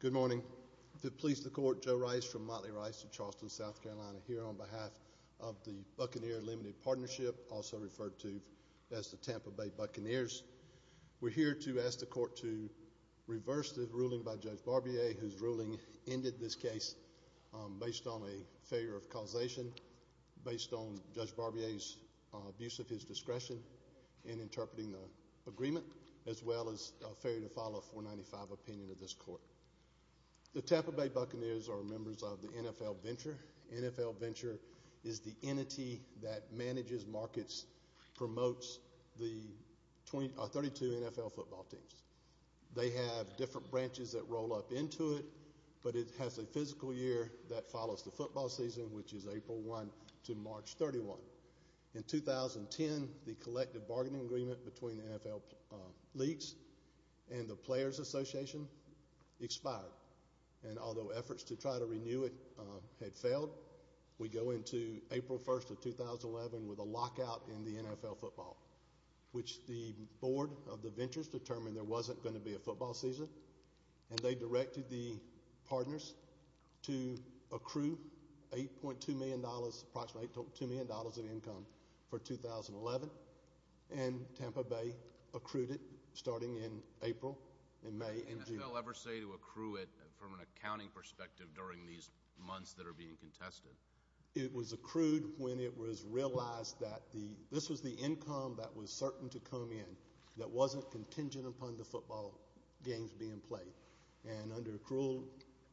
Good morning. To please the Court, Joe Rice from Motley Rice of Charleston, South Carolina, here on as the Tampa Bay Buccaneers. We're here to ask the Court to reverse the ruling by Judge Barbier, whose ruling ended this case based on a failure of causation, based on Judge Barbier's abuse of his discretion in interpreting the agreement, as well as a failure to follow a 495 opinion of this Court. The Tampa Bay Buccaneers are members of the NFL Venture. The NFL Venture is the entity that manages markets, promotes the 32 NFL football teams. They have different branches that roll up into it, but it has a physical year that follows the football season, which is April 1 to March 31. In 2010, the collective bargaining agreement between the NFL Leagues and the Players Association expired. And although efforts to try to renew it had failed, we go into April 1 of 2011 with a lockout in the NFL football, which the board of the Ventures determined there wasn't going to be a football season, and they directed the partners to accrue $8.2 million of income for 2011, and Tampa Bay accrued it starting in April, in May, in June. What did the NFL ever say to accrue it, from an accounting perspective, during these months that are being contested? It was accrued when it was realized that this was the income that was certain to come in, that wasn't contingent upon the football games being played. And under accrual,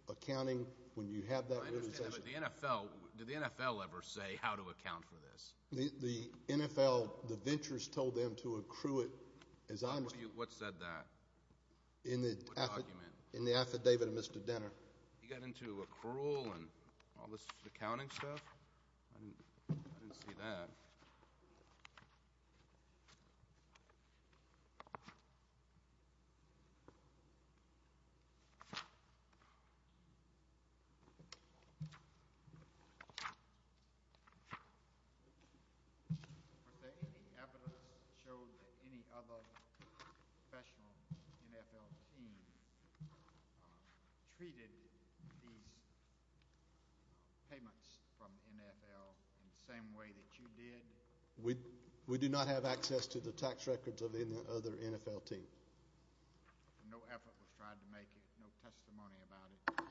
accounting, when you have that realization— I understand, but the NFL, did the NFL ever say how to account for this? The NFL, the Ventures told them to accrue it, as I understand— What said that? In the affidavit of Mr. Denner. He got into accrual and all this accounting stuff? I didn't see that. Was there any evidence that showed that any other professional NFL team treated these payments from the NFL in the same way that you did? We do not have access to the tax records of any other NFL team. No effort was tried to make it, no testimony about it, no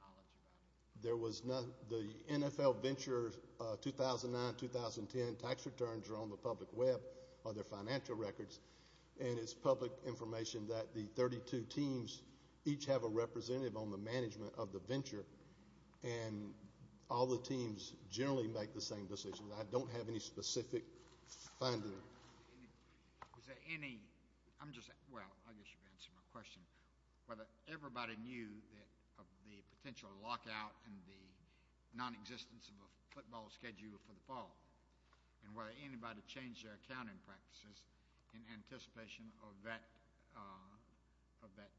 knowledge about it? There was none. The NFL Ventures 2009-2010 tax returns are on the public web, on their financial records, and it's public information that the 32 teams each have a representative on the management of the venture, and all the teams generally make the same decisions. I don't have any specific finding. Was there any—I'm just—well, I guess you've answered my question. Whether everybody knew of the potential lockout and the nonexistence of a football schedule for the fall, and whether anybody changed their accounting practices in anticipation of that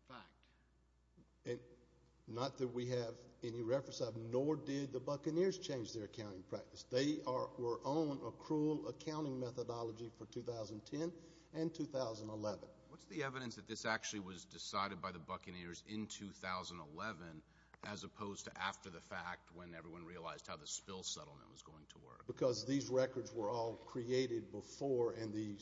fact? Not that we have any reference of, nor did the Buccaneers change their accounting practice. They were on a cruel accounting methodology for 2010 and 2011. What's the evidence that this actually was decided by the Buccaneers in 2011, as opposed to after the fact, when everyone realized how the Spill settlement was going to work? Because these records were all created before, and the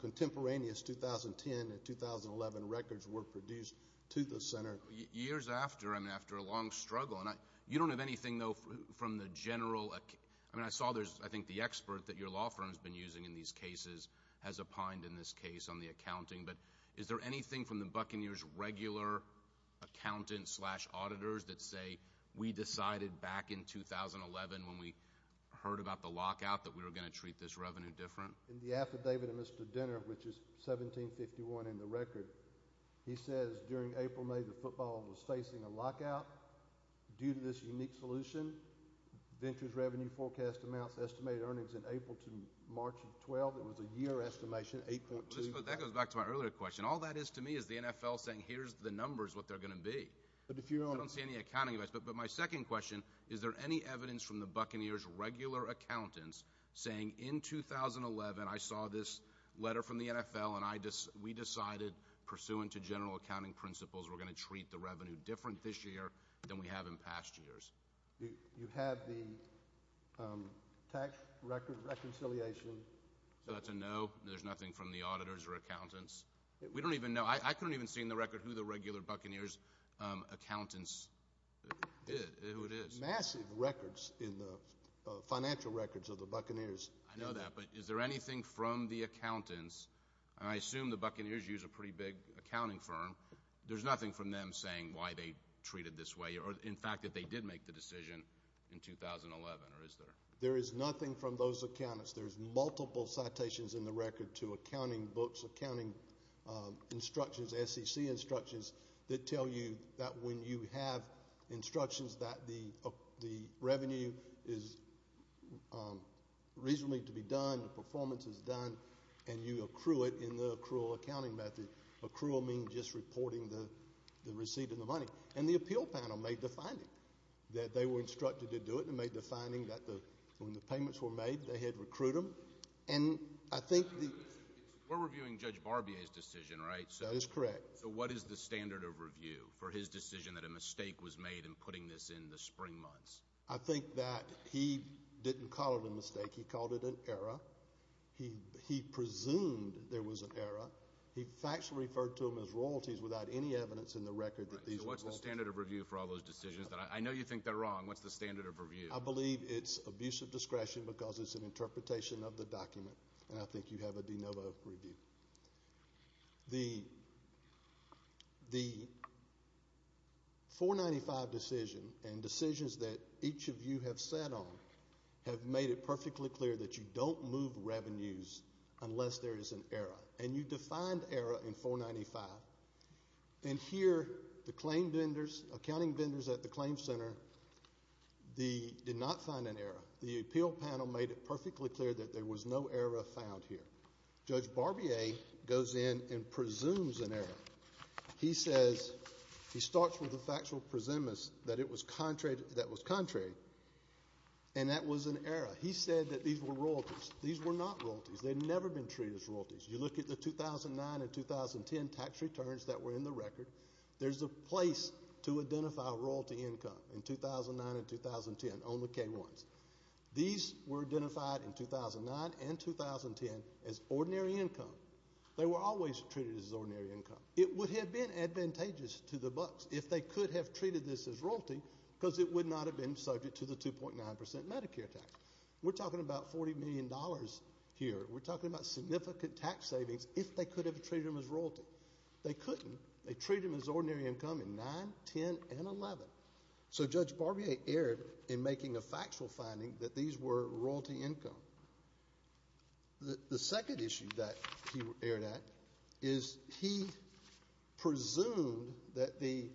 contemporaneous 2010 and 2011 records were produced to the center. Years after, I mean, after a long struggle, and you don't have anything, though, from the general—I mean, I saw there's, I think, the expert that your law firm's been using in these cases has opined in this case on the accounting, but is there anything from the Buccaneers' regular accountants slash auditors that say, we decided back in 2011 when we heard about the lockout that we were going to treat this revenue different? In the affidavit of Mr. Dinner, which is 1751 in the record, he says, during April-May, the football was facing a lockout due to this unique solution, Ventures Revenue Forecast Amounts Estimated Earnings in April to March of 2012. It was a year estimation, 8.2— That goes back to my earlier question. All that is to me is the NFL saying, here's the numbers, what they're going to be. But if you're on— I don't see any accounting advice. But my second question, is there any evidence from the Buccaneers' regular accountants saying in 2011, I saw this letter from the NFL, and we decided, pursuant to general accounting principles, we're going to treat the revenue different this year than we have in past years? You have the tax record reconciliation. So that's a no? There's nothing from the auditors or accountants? We don't even know. I couldn't even see in the record who the regular Buccaneers' accountants—who it is. Massive records in the financial records of the Buccaneers. I know that, but is there anything from the accountants—and I assume the Buccaneers use a pretty big accounting firm—there's nothing from them saying why they treated this way, or in fact, that they did make the decision in 2011, or is there? There is nothing from those accountants. There's multiple citations in the record to accounting books, accounting instructions, SEC instructions, that tell you that when you have instructions that the revenue is reasonably to be done, the performance is done, and you accrue it in the accrual accounting method. Accrual means just reporting the receipt of the money. And the appeal panel made the finding that they were instructed to do it. They made the finding that when the payments were made, they had to recruit them. We're reviewing Judge Barbier's decision, right? That is correct. So what is the standard of review for his decision that a mistake was made in putting this in the spring months? I think that he didn't call it a mistake. He called it an error. He presumed there was an error. He factually referred to them as royalties without any evidence in the record that these are royalties. So what's the standard of review for all those decisions? I know you think they're wrong. What's the standard of review? I believe it's abuse of discretion because it's an interpretation of the document, and I think you have a de novo review. The 495 decision and decisions that each of you have sat on have made it perfectly clear that you don't move revenues unless there is an error. And you defined error in 495. And here, the claim vendors, accounting vendors at the claim center, did not find an error. The appeal panel made it perfectly clear that there was no error found here. Judge Barbier goes in and presumes an error. He says, he starts with a factual presumption that it was contrary, and that was an error. He said that these were royalties. These were not royalties. They've never been treated as royalties. You look at the 2009 and 2010 tax returns that were in the record. There's a place to identify royalty income in 2009 and 2010 on the K-1s. These were identified in 2009 and 2010 as ordinary income. They were always treated as ordinary income. It would have been advantageous to the bucks if they could have treated this as royalty because it would not have been subject to the 2.9% Medicare tax. We're talking about $40 million here. We're talking about significant tax savings if they could have treated them as royalty. They couldn't. They treated them as ordinary income in 2009, 2010, and 2011. So Judge Barbier erred in making a factual finding that these were royalty income. The second issue that he erred at is he presumed that the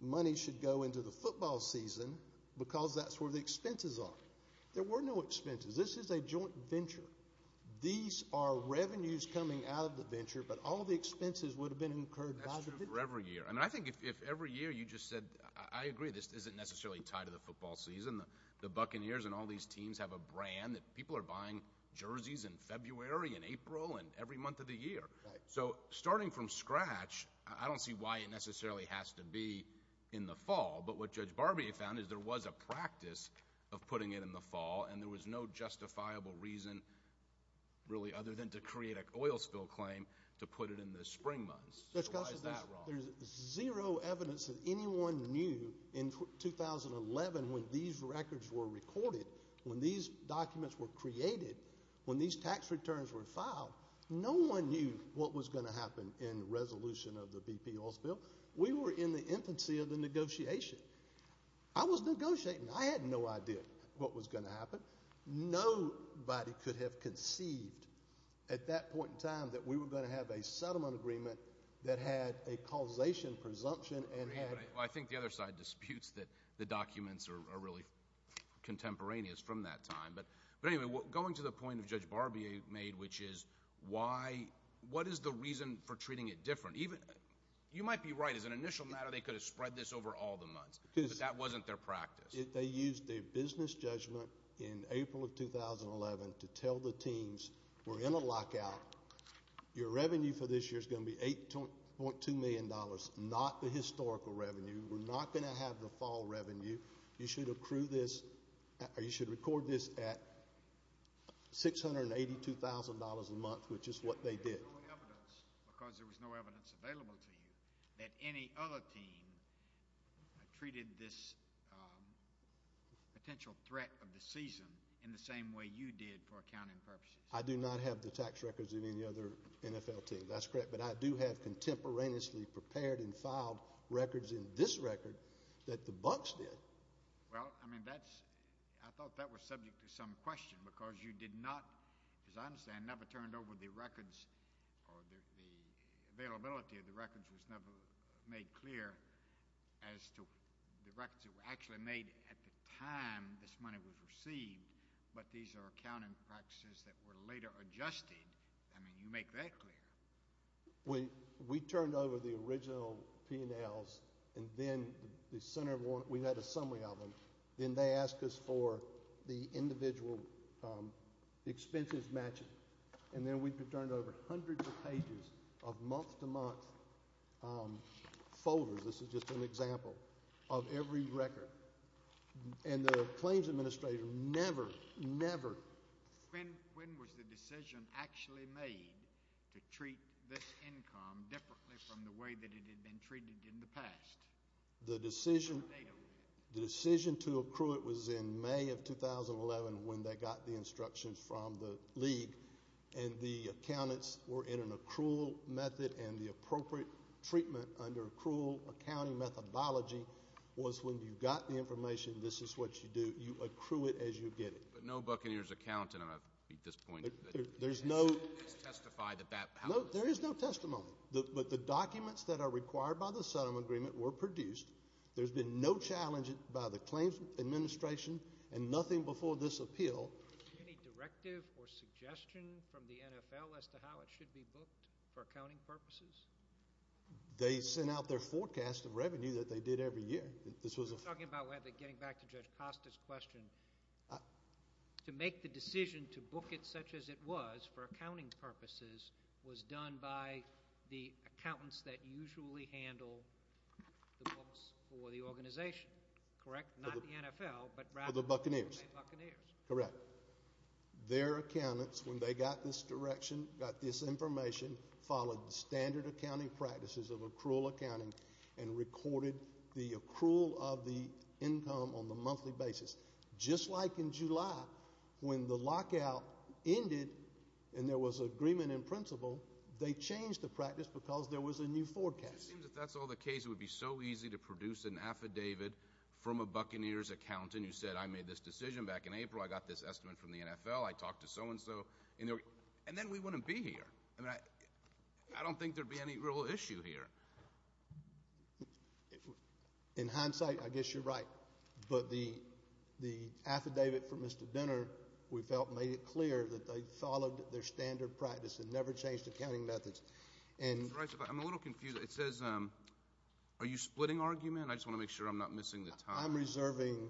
money should go into the football season because that's where the expenses are. There were no expenses. This is a joint venture. These are revenues coming out of the venture, but all the expenses would have been incurred by the venture. That's true for every year. I think if every year you just said, I agree, this isn't necessarily tied to the football season. The Buccaneers and all these teams have a brand that people are buying jerseys in February and April and every month of the year. So starting from scratch, I don't see why it necessarily has to be in the fall. But what Judge Barbier found is there was a practice of putting it in the fall and there was no justifiable reason really other than to create an oil spill claim to put it in the spring months. So why is that wrong? There's zero evidence that anyone knew in 2011 when these records were recorded, when these documents were created, when these tax returns were filed, no one knew what was going to happen in resolution of the BP oil spill. We were in the infancy of the negotiation. I was negotiating. I had no idea what was going to happen. Nobody could have conceived at that point in time that we were going to have a settlement agreement that had a causation presumption and had— I think the other side disputes that the documents are really contemporaneous from that time. But anyway, going to the point that Judge Barbier made, which is why—what is the reason for treating it different? You might be right. As an initial matter, they could have spread this over all the months, but that wasn't their practice. They used a business judgment in April of 2011 to tell the teams, we're in a lockout. Your revenue for this year is going to be $8.2 million, not the historical revenue. We're not going to have the fall revenue. You should record this at $682,000 a month, which is what they did. Because there was no evidence available to you that any other team treated this potential threat of the season in the same way you did for accounting purposes. I do not have the tax records of any other NFL team. That's correct. But I do have contemporaneously prepared and filed records in this record that the Bucks did. Well, I mean, that's—I thought that was subject to some question because you did not, as I understand, never turned over the records or the availability of the records was never made clear as to the records that were actually made at the time this money was received, but these are accounting practices that were later adjusted. I mean, you make that clear. We turned over the original P&Ls, and then we had a summary of them. Then they asked us for the individual expenses matching, and then we turned over hundreds of pages of month-to-month folders—this is just an example—of every record. And the claims administrator never, never— When was the decision actually made to treat this income differently from the way that it had been treated in the past? The decision to accrue it was in May of 2011 when they got the instructions from the league, and the accountants were in an accrual method, and the appropriate treatment under accrual accounting methodology was when you got the information, this is what you do. You accrue it as you get it. But no Buccaneers accountant, at this point, has testified that that— No, there is no testimony, but the documents that are required by the settlement agreement were produced. There's been no challenge by the claims administration and nothing before this appeal. Any directive or suggestion from the NFL as to how it should be booked for accounting purposes? They sent out their forecast of revenue that they did every year. This was a— Talking about whether getting back to Judge Costa's question, to make the decision to book it such as it was for accounting purposes was done by the accountants that usually handle the books for the organization, correct? Not the NFL, but rather— For the Buccaneers. —the Buccaneers. Correct. Their accountants, when they got this direction, got this information, followed standard accounting practices of accrual accounting and recorded the accrual of the income on the monthly basis. Just like in July, when the lockout ended and there was agreement in principle, they changed the practice because there was a new forecast. If that's all the case, it would be so easy to produce an affidavit from a Buccaneers accountant who said, I made this decision back in April, I got this estimate from the NFL, I talked to so-and-so, and then we wouldn't be here. I don't think there'd be any real issue here. In hindsight, I guess you're right. But the affidavit from Mr. Denner, we felt, made it clear that they followed their standard practice and never changed accounting methods. I'm a little confused. It says—are you splitting argument? I just want to make sure I'm not missing the time. I'm reserving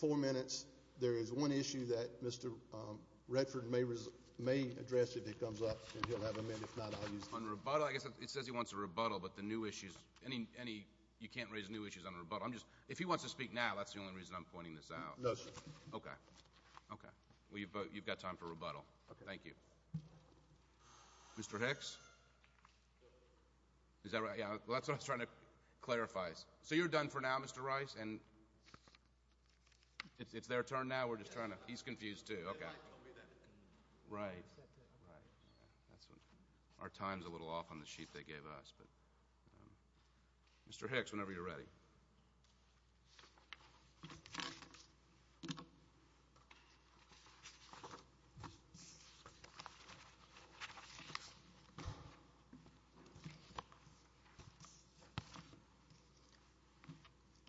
four minutes. There is one issue that Mr. Redford may address if he comes up, and he'll have a minute. If not, I'll use— On rebuttal? I guess it says he wants a rebuttal, but the new issues—any—you can't raise new issues on rebuttal. I'm just—if he wants to speak now, that's the only reason I'm pointing this out. No, sir. Okay. Okay. Well, you've got time for rebuttal. Thank you. Mr. Hicks? Is that right? Yeah, that's what I was trying to clarify. So you're done for now, Mr. Rice? And it's their turn now? We're just trying to—he's confused, too. Okay. Right. Our time's a little off on the sheet they gave us, but—Mr. Hicks, whenever you're ready.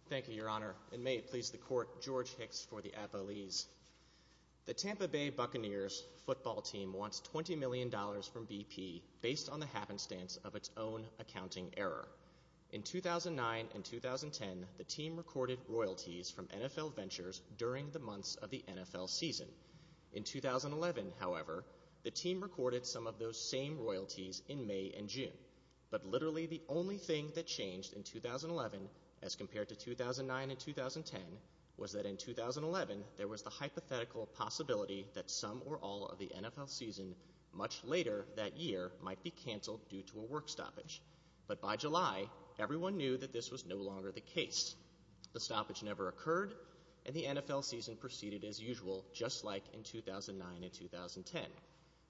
Thank you, Your Honor. And may it please the Court, George Hicks for the Apollese. The Tampa Bay Buccaneers football team wants $20 million from BP based on the happenstance of its own accounting error. In 2009 and 2010, the team recorded royalties from NFL ventures during the months of the NFL season. In 2011, however, the team recorded some of those same royalties in May and June. But literally the only thing that changed in 2011, as compared to 2009 and 2010, was that in 2011 there was the hypothetical possibility that some or all of the NFL season much later that year might be canceled due to a work stoppage. But by July, everyone knew that this was no longer the case. The stoppage never occurred, and the NFL season proceeded as usual, just like in 2009 and 2010.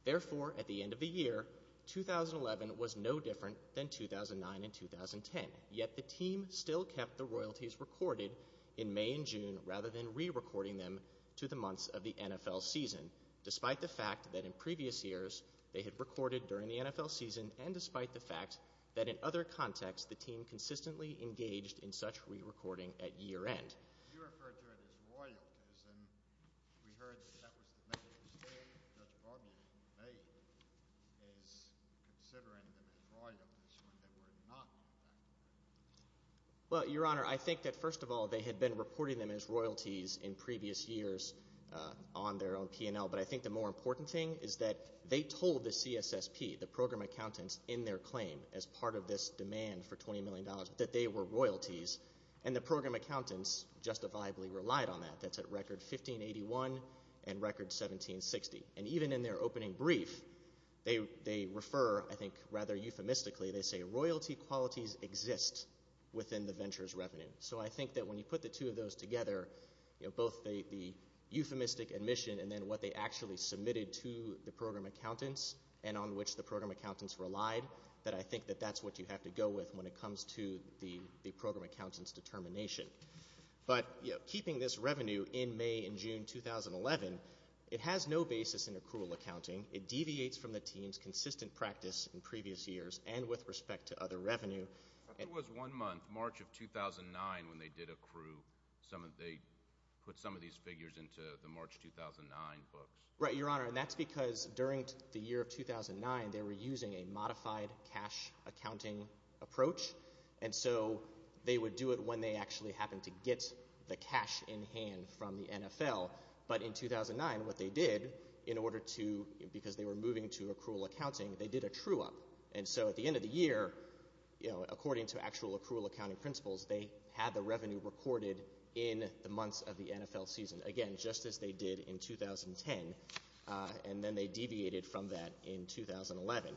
Therefore, at the end of the year, 2011 was no different than 2009 and 2010. Yet the team still kept the royalties recorded in May and June rather than re-recording them to the months of the NFL season, despite the fact that in previous years they had recorded during the NFL season and despite the fact that in other contexts the team consistently engaged in such re-recording at year-end. You referred to it as royalties, and we heard that that was the main mistake that Judge Barbee made, is considering them as royalties when they were not on that claim. Well, Your Honor, I think that first of all they had been reporting them as royalties in previous years on their own P&L, but I think the more important thing is that they told the CSSP, the program accountants, in their claim as part of this demand for $20 justifiably relied on that. That's at record $15.81 and record $17.60. And even in their opening brief, they refer, I think rather euphemistically, they say, royalty qualities exist within the venture's revenue. So I think that when you put the two of those together, both the euphemistic admission and then what they actually submitted to the program accountants and on which the program accountants relied, that I think that that's what you have to go with when it comes to the program accountants' determination. But keeping this revenue in May and June 2011, it has no basis in accrual accounting. It deviates from the team's consistent practice in previous years and with respect to other revenue. It was one month, March of 2009, when they did accrue. They put some of these figures into the March 2009 books. Right, Your Honor. And that's because during the year of 2009, they were using a modified cash accounting approach. And so they would do it when they actually happened to get the cash in hand from the NFL. But in 2009, what they did in order to, because they were moving to accrual accounting, they did a true up. And so at the end of the year, you know, according to actual accrual accounting principles, they had the revenue recorded in the months of the NFL season. Again, just as they did in 2010. And then they deviated from that in 2011.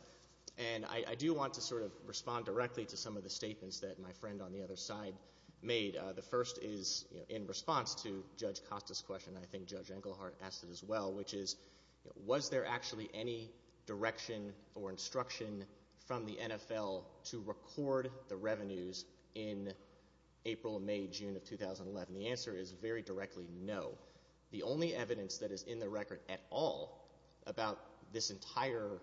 And I do want to sort of respond directly to some of the statements that my friend on the other side made. The first is, you know, in response to Judge Costa's question, I think Judge Englehart asked it as well, which is, was there actually any direction or instruction from the NFL to record the revenues in April, May, June of 2011? The answer is very directly no. The only evidence that is in the record at all about this entire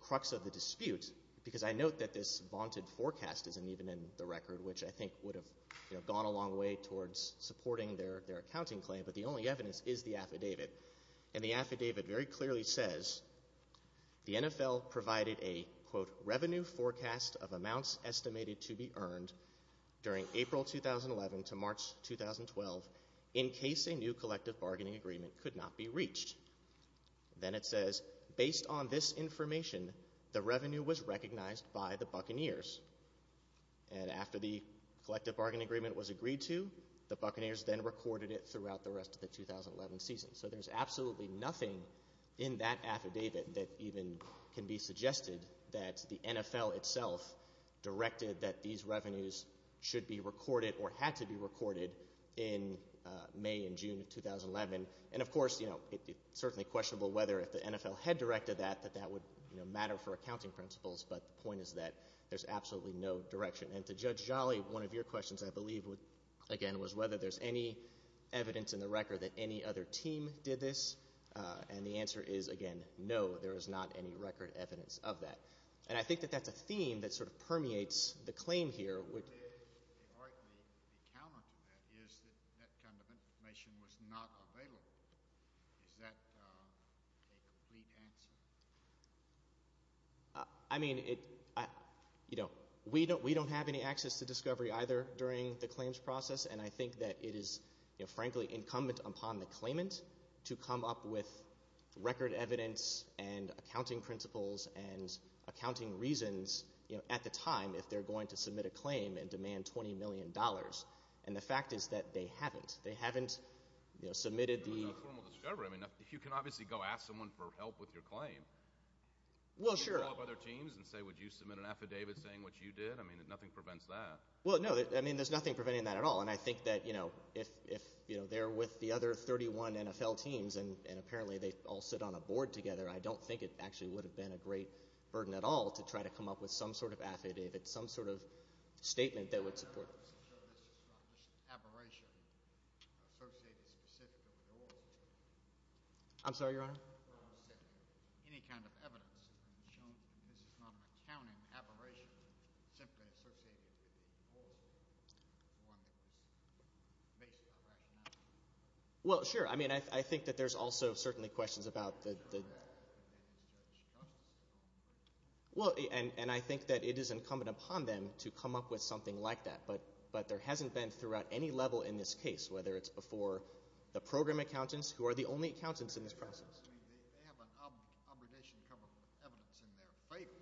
crux of the dispute, because I note that this vaunted forecast isn't even in the record, which I think would have gone a long way towards supporting their accounting claim. But the only evidence is the affidavit. And the affidavit very clearly says the NFL provided a, quote, revenue forecast of amounts bargaining agreement could not be reached. Then it says, based on this information, the revenue was recognized by the Buccaneers. And after the collective bargaining agreement was agreed to, the Buccaneers then recorded it throughout the rest of the 2011 season. So there's absolutely nothing in that affidavit that even can be suggested that the NFL itself directed that these revenues should be recorded or had to be recorded in May and June of 2011. And of course, you know, it's certainly questionable whether if the NFL had directed that, that that would, you know, matter for accounting principles. But the point is that there's absolutely no direction. And to Judge Jolly, one of your questions, I believe, would, again, was whether there's any evidence in the record that any other team did this. And the answer is, again, no, there is not any record evidence of that. And I think that that's a theme that sort of permeates the claim here. What is, in art, the counter to that is that that kind of information was not available. Is that a complete answer? I mean, you know, we don't have any access to discovery either during the claims process. And I think that it is, you know, frankly incumbent upon the claimant to come up with accounting reasons, you know, at the time if they're going to submit a claim and demand $20 million. And the fact is that they haven't. They haven't, you know, submitted the... You're not a formal discoverer. I mean, you can obviously go ask someone for help with your claim. Well, sure. You can call up other teams and say, would you submit an affidavit saying what you did? I mean, nothing prevents that. Well, no, I mean, there's nothing preventing that at all. And I think that, you know, if, you know, they're with the other 31 NFL teams and apparently they all sit on a board together, I don't think it actually would have been a great burden at all to try to come up with some sort of affidavit, some sort of statement that would support... So this is not just an aberration associated specifically with yours? I'm sorry, Your Honor? Any kind of evidence has been shown that this is not an accounting aberration, simply associated with the cause of one that was based on rationality? Well, sure. I mean, I think that there's also certainly questions about the... Well, and I think that it is incumbent upon them to come up with something like that. But there hasn't been throughout any level in this case, whether it's before the program accountants, who are the only accountants in this process. I mean, they have an obligation to cover evidence in their favor,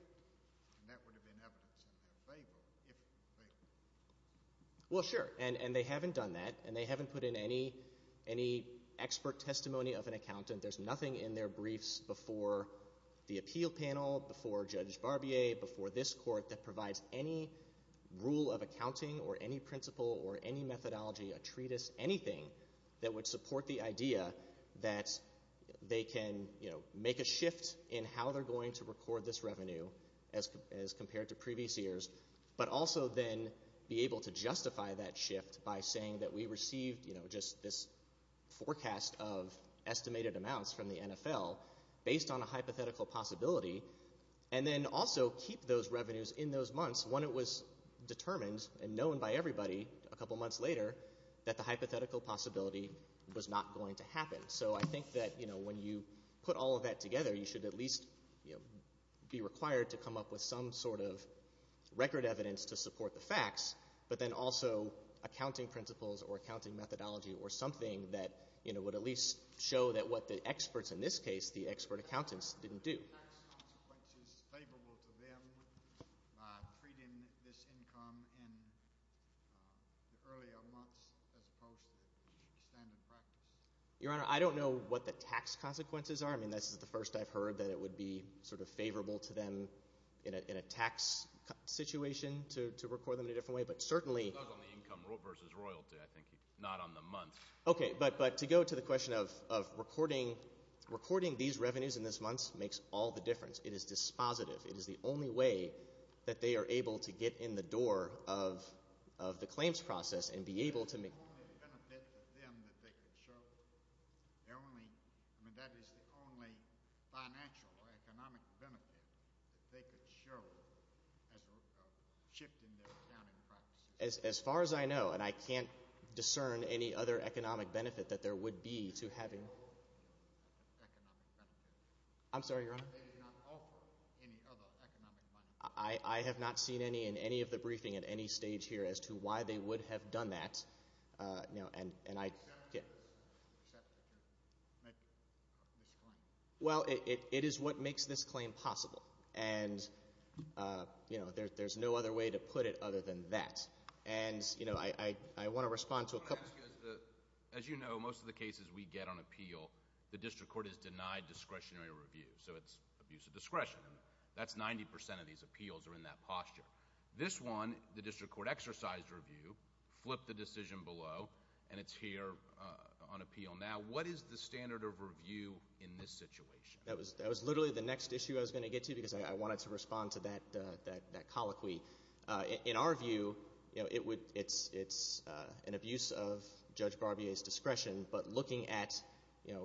and that would have been evidence in their favor, if they... Well, sure. And they haven't done that. And they haven't put in any expert testimony of an accountant. There's nothing in their briefs before the appeal panel, before Judge Barbier, before this court that provides any rule of accounting or any principle or any methodology, a treatise, anything that would support the idea that they can make a shift in how they're going to record this revenue as compared to previous years, but also then be able to justify that by saying that we received just this forecast of estimated amounts from the NFL based on a hypothetical possibility, and then also keep those revenues in those months when it was determined and known by everybody a couple months later that the hypothetical possibility was not going to happen. So I think that when you put all of that together, you should at least be required to come up with some sort of record evidence to support the facts. But then also accounting principles or accounting methodology or something that would at least show that what the experts in this case, the expert accountants, didn't do. Are the tax consequences favorable to them by treating this income in the earlier months as opposed to the standard practice? Your Honor, I don't know what the tax consequences are. I mean, this is the first I've heard that it would be sort of favorable to them in a tax situation to record them in a different way, but certainly... It was on the income versus royalty, I think, not on the month. Okay, but to go to the question of recording these revenues in this month makes all the difference. It is dispositive. It is the only way that they are able to get in the door of the claims process and be able to make... It's the only benefit to them that they could show. They're only... I mean, that is the only financial or economic benefit that they could show as a shift in their accounting practices. As far as I know, and I can't discern any other economic benefit that there would be to having... No economic benefit. I'm sorry, Your Honor? They did not offer any other economic benefit. I have not seen any in any of the briefing at any stage here as to why they would have done that. No, and I... Well, it is what makes this claim possible, and there's no other way to put it other than that. And I want to respond to a couple... As you know, most of the cases we get on appeal, the district court has denied discretionary review, so it's abuse of discretion. That's 90% of these appeals are in that posture. This one, the district court exercised review, flipped the decision below, and it's here on appeal now. What is the standard of review in this situation? That was literally the next issue I was going to get to, because I wanted to respond to that colloquy. In our view, it's an abuse of Judge Barbier's discretion, but looking at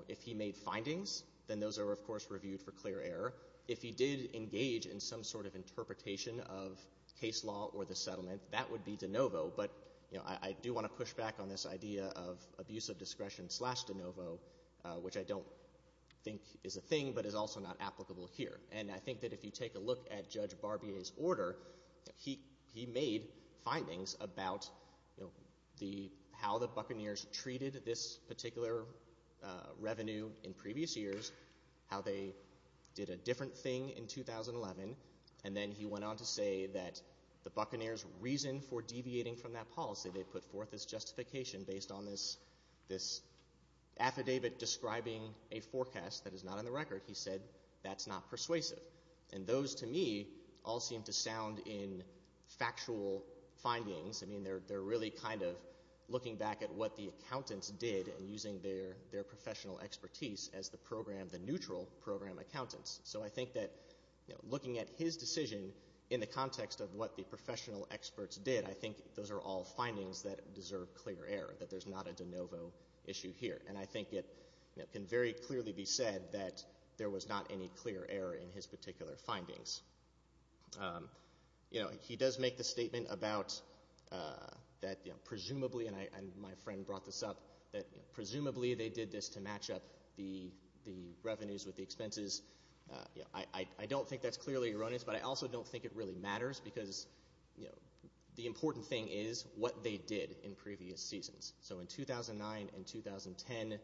if he made findings, then those are, of course, reviewed for clear error. If he did engage in some sort of interpretation of case law or the settlement, that would be de novo. But I do want to push back on this idea of abuse of discretion slash de novo, which I don't think is a thing, but is also not applicable here. And I think that if you take a look at Judge Barbier's order, he made findings about how the Buccaneers treated this particular revenue in previous years, how they did a different thing in 2011, and then he went on to say that the Buccaneers' reason for deviating from that policy, they put forth this justification based on this affidavit describing a forecast that is not on the record. He said that's not persuasive. And those, to me, all seem to sound in factual findings. They're really kind of looking back at what the accountants did and using their professional expertise as the program, the neutral program accountants. So I think that looking at his decision in the context of what the professional experts did, I think those are all findings that deserve clear error, that there's not a de novo issue here. And I think it can very clearly be said that there was not any clear error in his particular findings. You know, he does make the statement about that, you know, presumably, and my friend brought this up, that presumably they did this to match up the revenues with the expenses. I don't think that's clearly erroneous, but I also don't think it really matters, because, you know, the important thing is what they did in previous seasons. So in 2009 and 2010,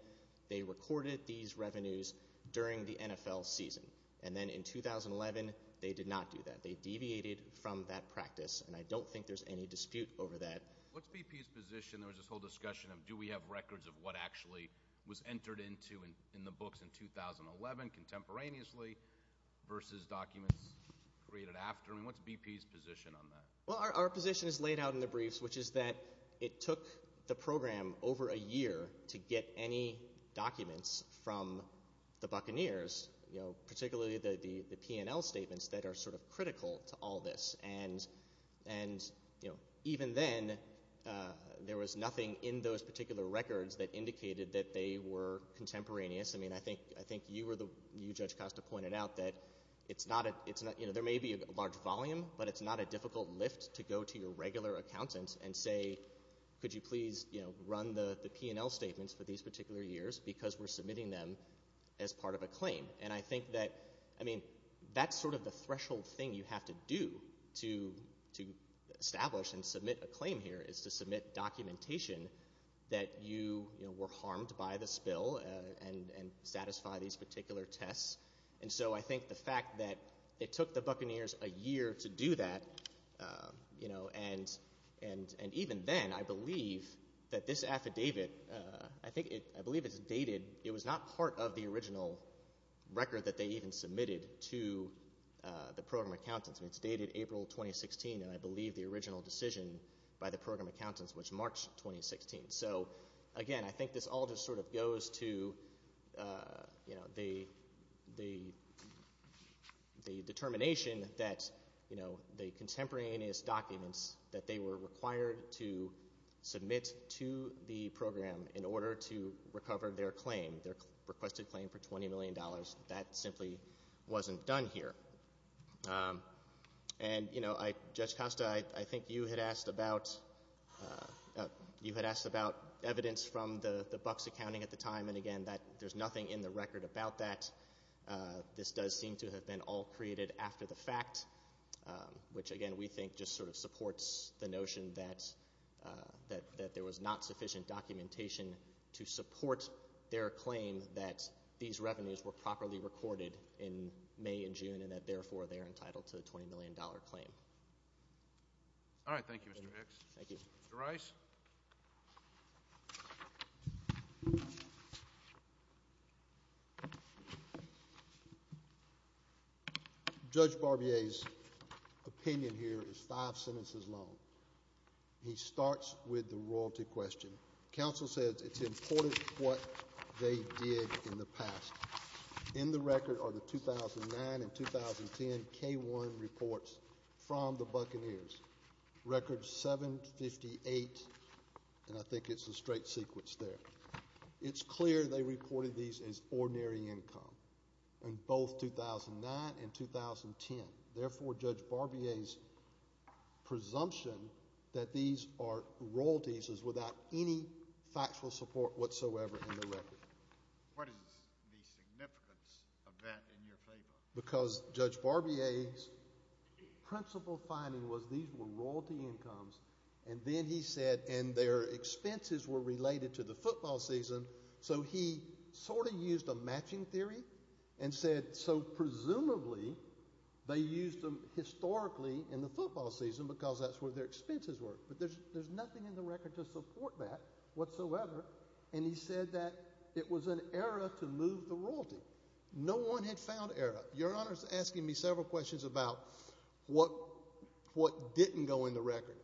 they recorded these revenues during the NFL season. And then in 2011, they did not do that. They deviated from that practice, and I don't think there's any dispute over that. What's BP's position? There was this whole discussion of, do we have records of what actually was entered into in the books in 2011 contemporaneously versus documents created after? I mean, what's BP's position on that? Well, our position is laid out in the briefs, which is that it took the program over a year to get any documents from the Buccaneers, you know, particularly the P&L statements that are sort of critical to all this. And, you know, even then, there was nothing in those particular records that indicated that they were contemporaneous. I mean, I think you, Judge Costa, pointed out that there may be a large volume, but it's not a difficult lift to go to your regular accountant and say, could you please, you know, look at the P&L statements for these particular years because we're submitting them as part of a claim. And I think that, I mean, that's sort of the threshold thing you have to do to establish and submit a claim here is to submit documentation that you were harmed by the spill and satisfy these particular tests. And so I think the fact that it took the Buccaneers a year to do that, you know, and even then, I believe that this affidavit, I think it, I believe it's dated, it was not part of the original record that they even submitted to the program accountants. I mean, it's dated April 2016, and I believe the original decision by the program accountants, which March 2016. So again, I think this all just sort of goes to, you know, the determination that, you know, they were required to submit to the program in order to recover their claim, their requested claim for $20 million. That simply wasn't done here. And you know, Judge Costa, I think you had asked about, you had asked about evidence from the Bucs accounting at the time, and again, that there's nothing in the record about that. This does seem to have been all created after the fact, which again, we think just sort of supports the notion that there was not sufficient documentation to support their claim that these revenues were properly recorded in May and June, and that therefore, they are entitled to a $20 million claim. All right. Thank you, Mr. Hicks. Thank you. Mr. Rice? Judge Barbier's opinion here is five sentences long. He starts with the royalty question. Counsel says it's important what they did in the past. In the record are the 2009 and 2010 K-1 reports from the Buccaneers, record 758, and I think it's a straight sequence there. It's clear they reported these as ordinary income in both 2009 and 2010. Therefore, Judge Barbier's presumption that these are royalties is without any factual support whatsoever in the record. What is the significance of that in your favor? Because Judge Barbier's principle finding was these were royalty incomes, and then he said, and their expenses were related to the football season, so he sort of used a matching theory and said, so presumably, they used them historically in the football season because that's where their expenses were. But there's nothing in the record to support that whatsoever. And he said that it was an error to move the royalty. No one had found error. Your Honor's asking me several questions about what didn't go in the record.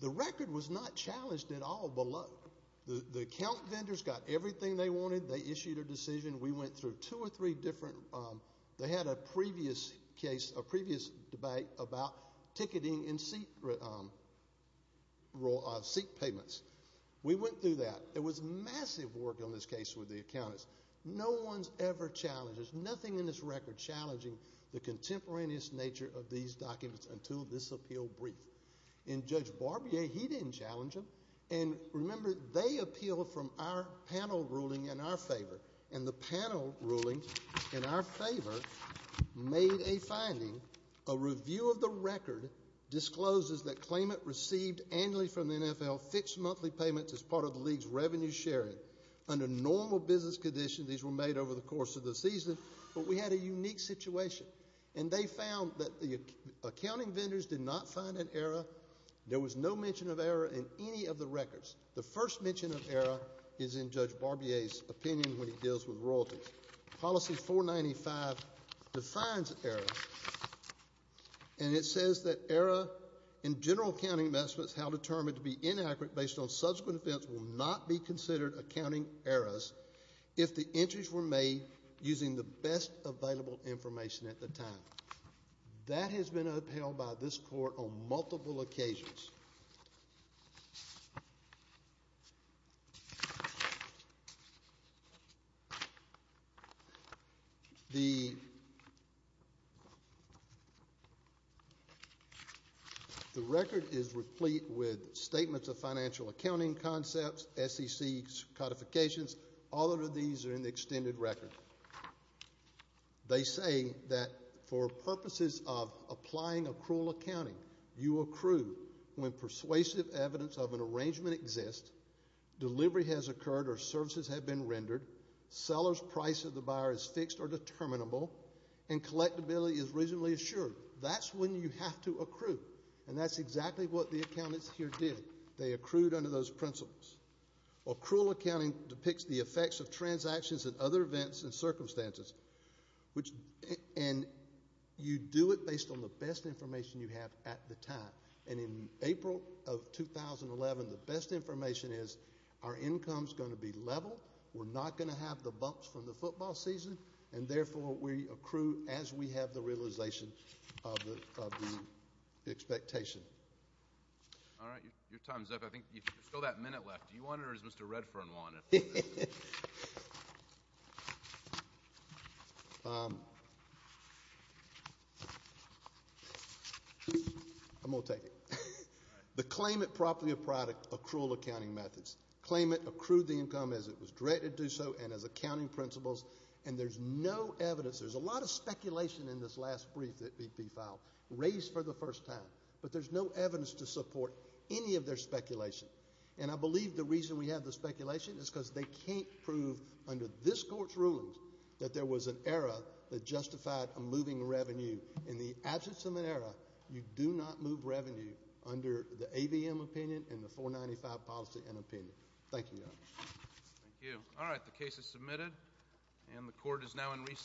The record was not challenged at all below. The account vendors got everything they wanted. They issued a decision. We went through two or three different, they had a previous case, a previous debate about ticketing and seat payments. We went through that. There was massive work on this case with the accountants. No one's ever challenged. There's nothing in this record challenging the contemporaneous nature of these documents until this appeal brief. And Judge Barbier, he didn't challenge them. And remember, they appealed from our panel ruling in our favor. And the panel ruling in our favor made a finding, a review of the record discloses that claimant received annually from the NFL fixed monthly payments as part of the league's revenue sharing. Under normal business conditions, these were made over the course of the season. But we had a unique situation. And they found that the accounting vendors did not find an error. There was no mention of error in any of the records. The first mention of error is in Judge Barbier's opinion when he deals with royalties. Policy 495 defines error. And it says that error in general accounting investments held determined to be inaccurate based on subsequent events will not be considered accounting errors if the entries were made using the best available information at the time. That has been upheld by this court on multiple occasions. The record is replete with statements of financial accounting concepts, SEC codifications. All of these are in the extended record. They say that for purposes of applying accrual accounting, you accrue when persuasive evidence of an arrangement exists, delivery has occurred or services have been rendered, seller's price of the buyer is fixed or determinable, and collectability is reasonably assured. That's when you have to accrue. And that's exactly what the accountants here did. They accrued under those principles. Accrual accounting depicts the effects of transactions and other events and circumstances, and you do it based on the best information you have at the time. And in April of 2011, the best information is our income is going to be level, we're not going to have the bumps from the football season, and therefore we accrue as we have the realization of the expectation. All right. Your time is up. I think there's still that minute left. Do you want it or does Mr. Redfern want it? I'm going to take it. The claimant property of product accrual accounting methods. Claimant accrued the income as it was directed to do so and as accounting principles, and there's no evidence. There's a lot of speculation in this last brief that BP filed, raised for the first time, but there's no evidence to support any of their speculation. And I believe the reason we have the speculation is because they can't prove under this court's rulings that there was an era that justified a moving revenue. In the absence of an era, you do not move revenue under the AVM opinion and the 495 policy and opinion. Thank you, Your Honor. Thank you. All right. The case is submitted, and the court is now in recess.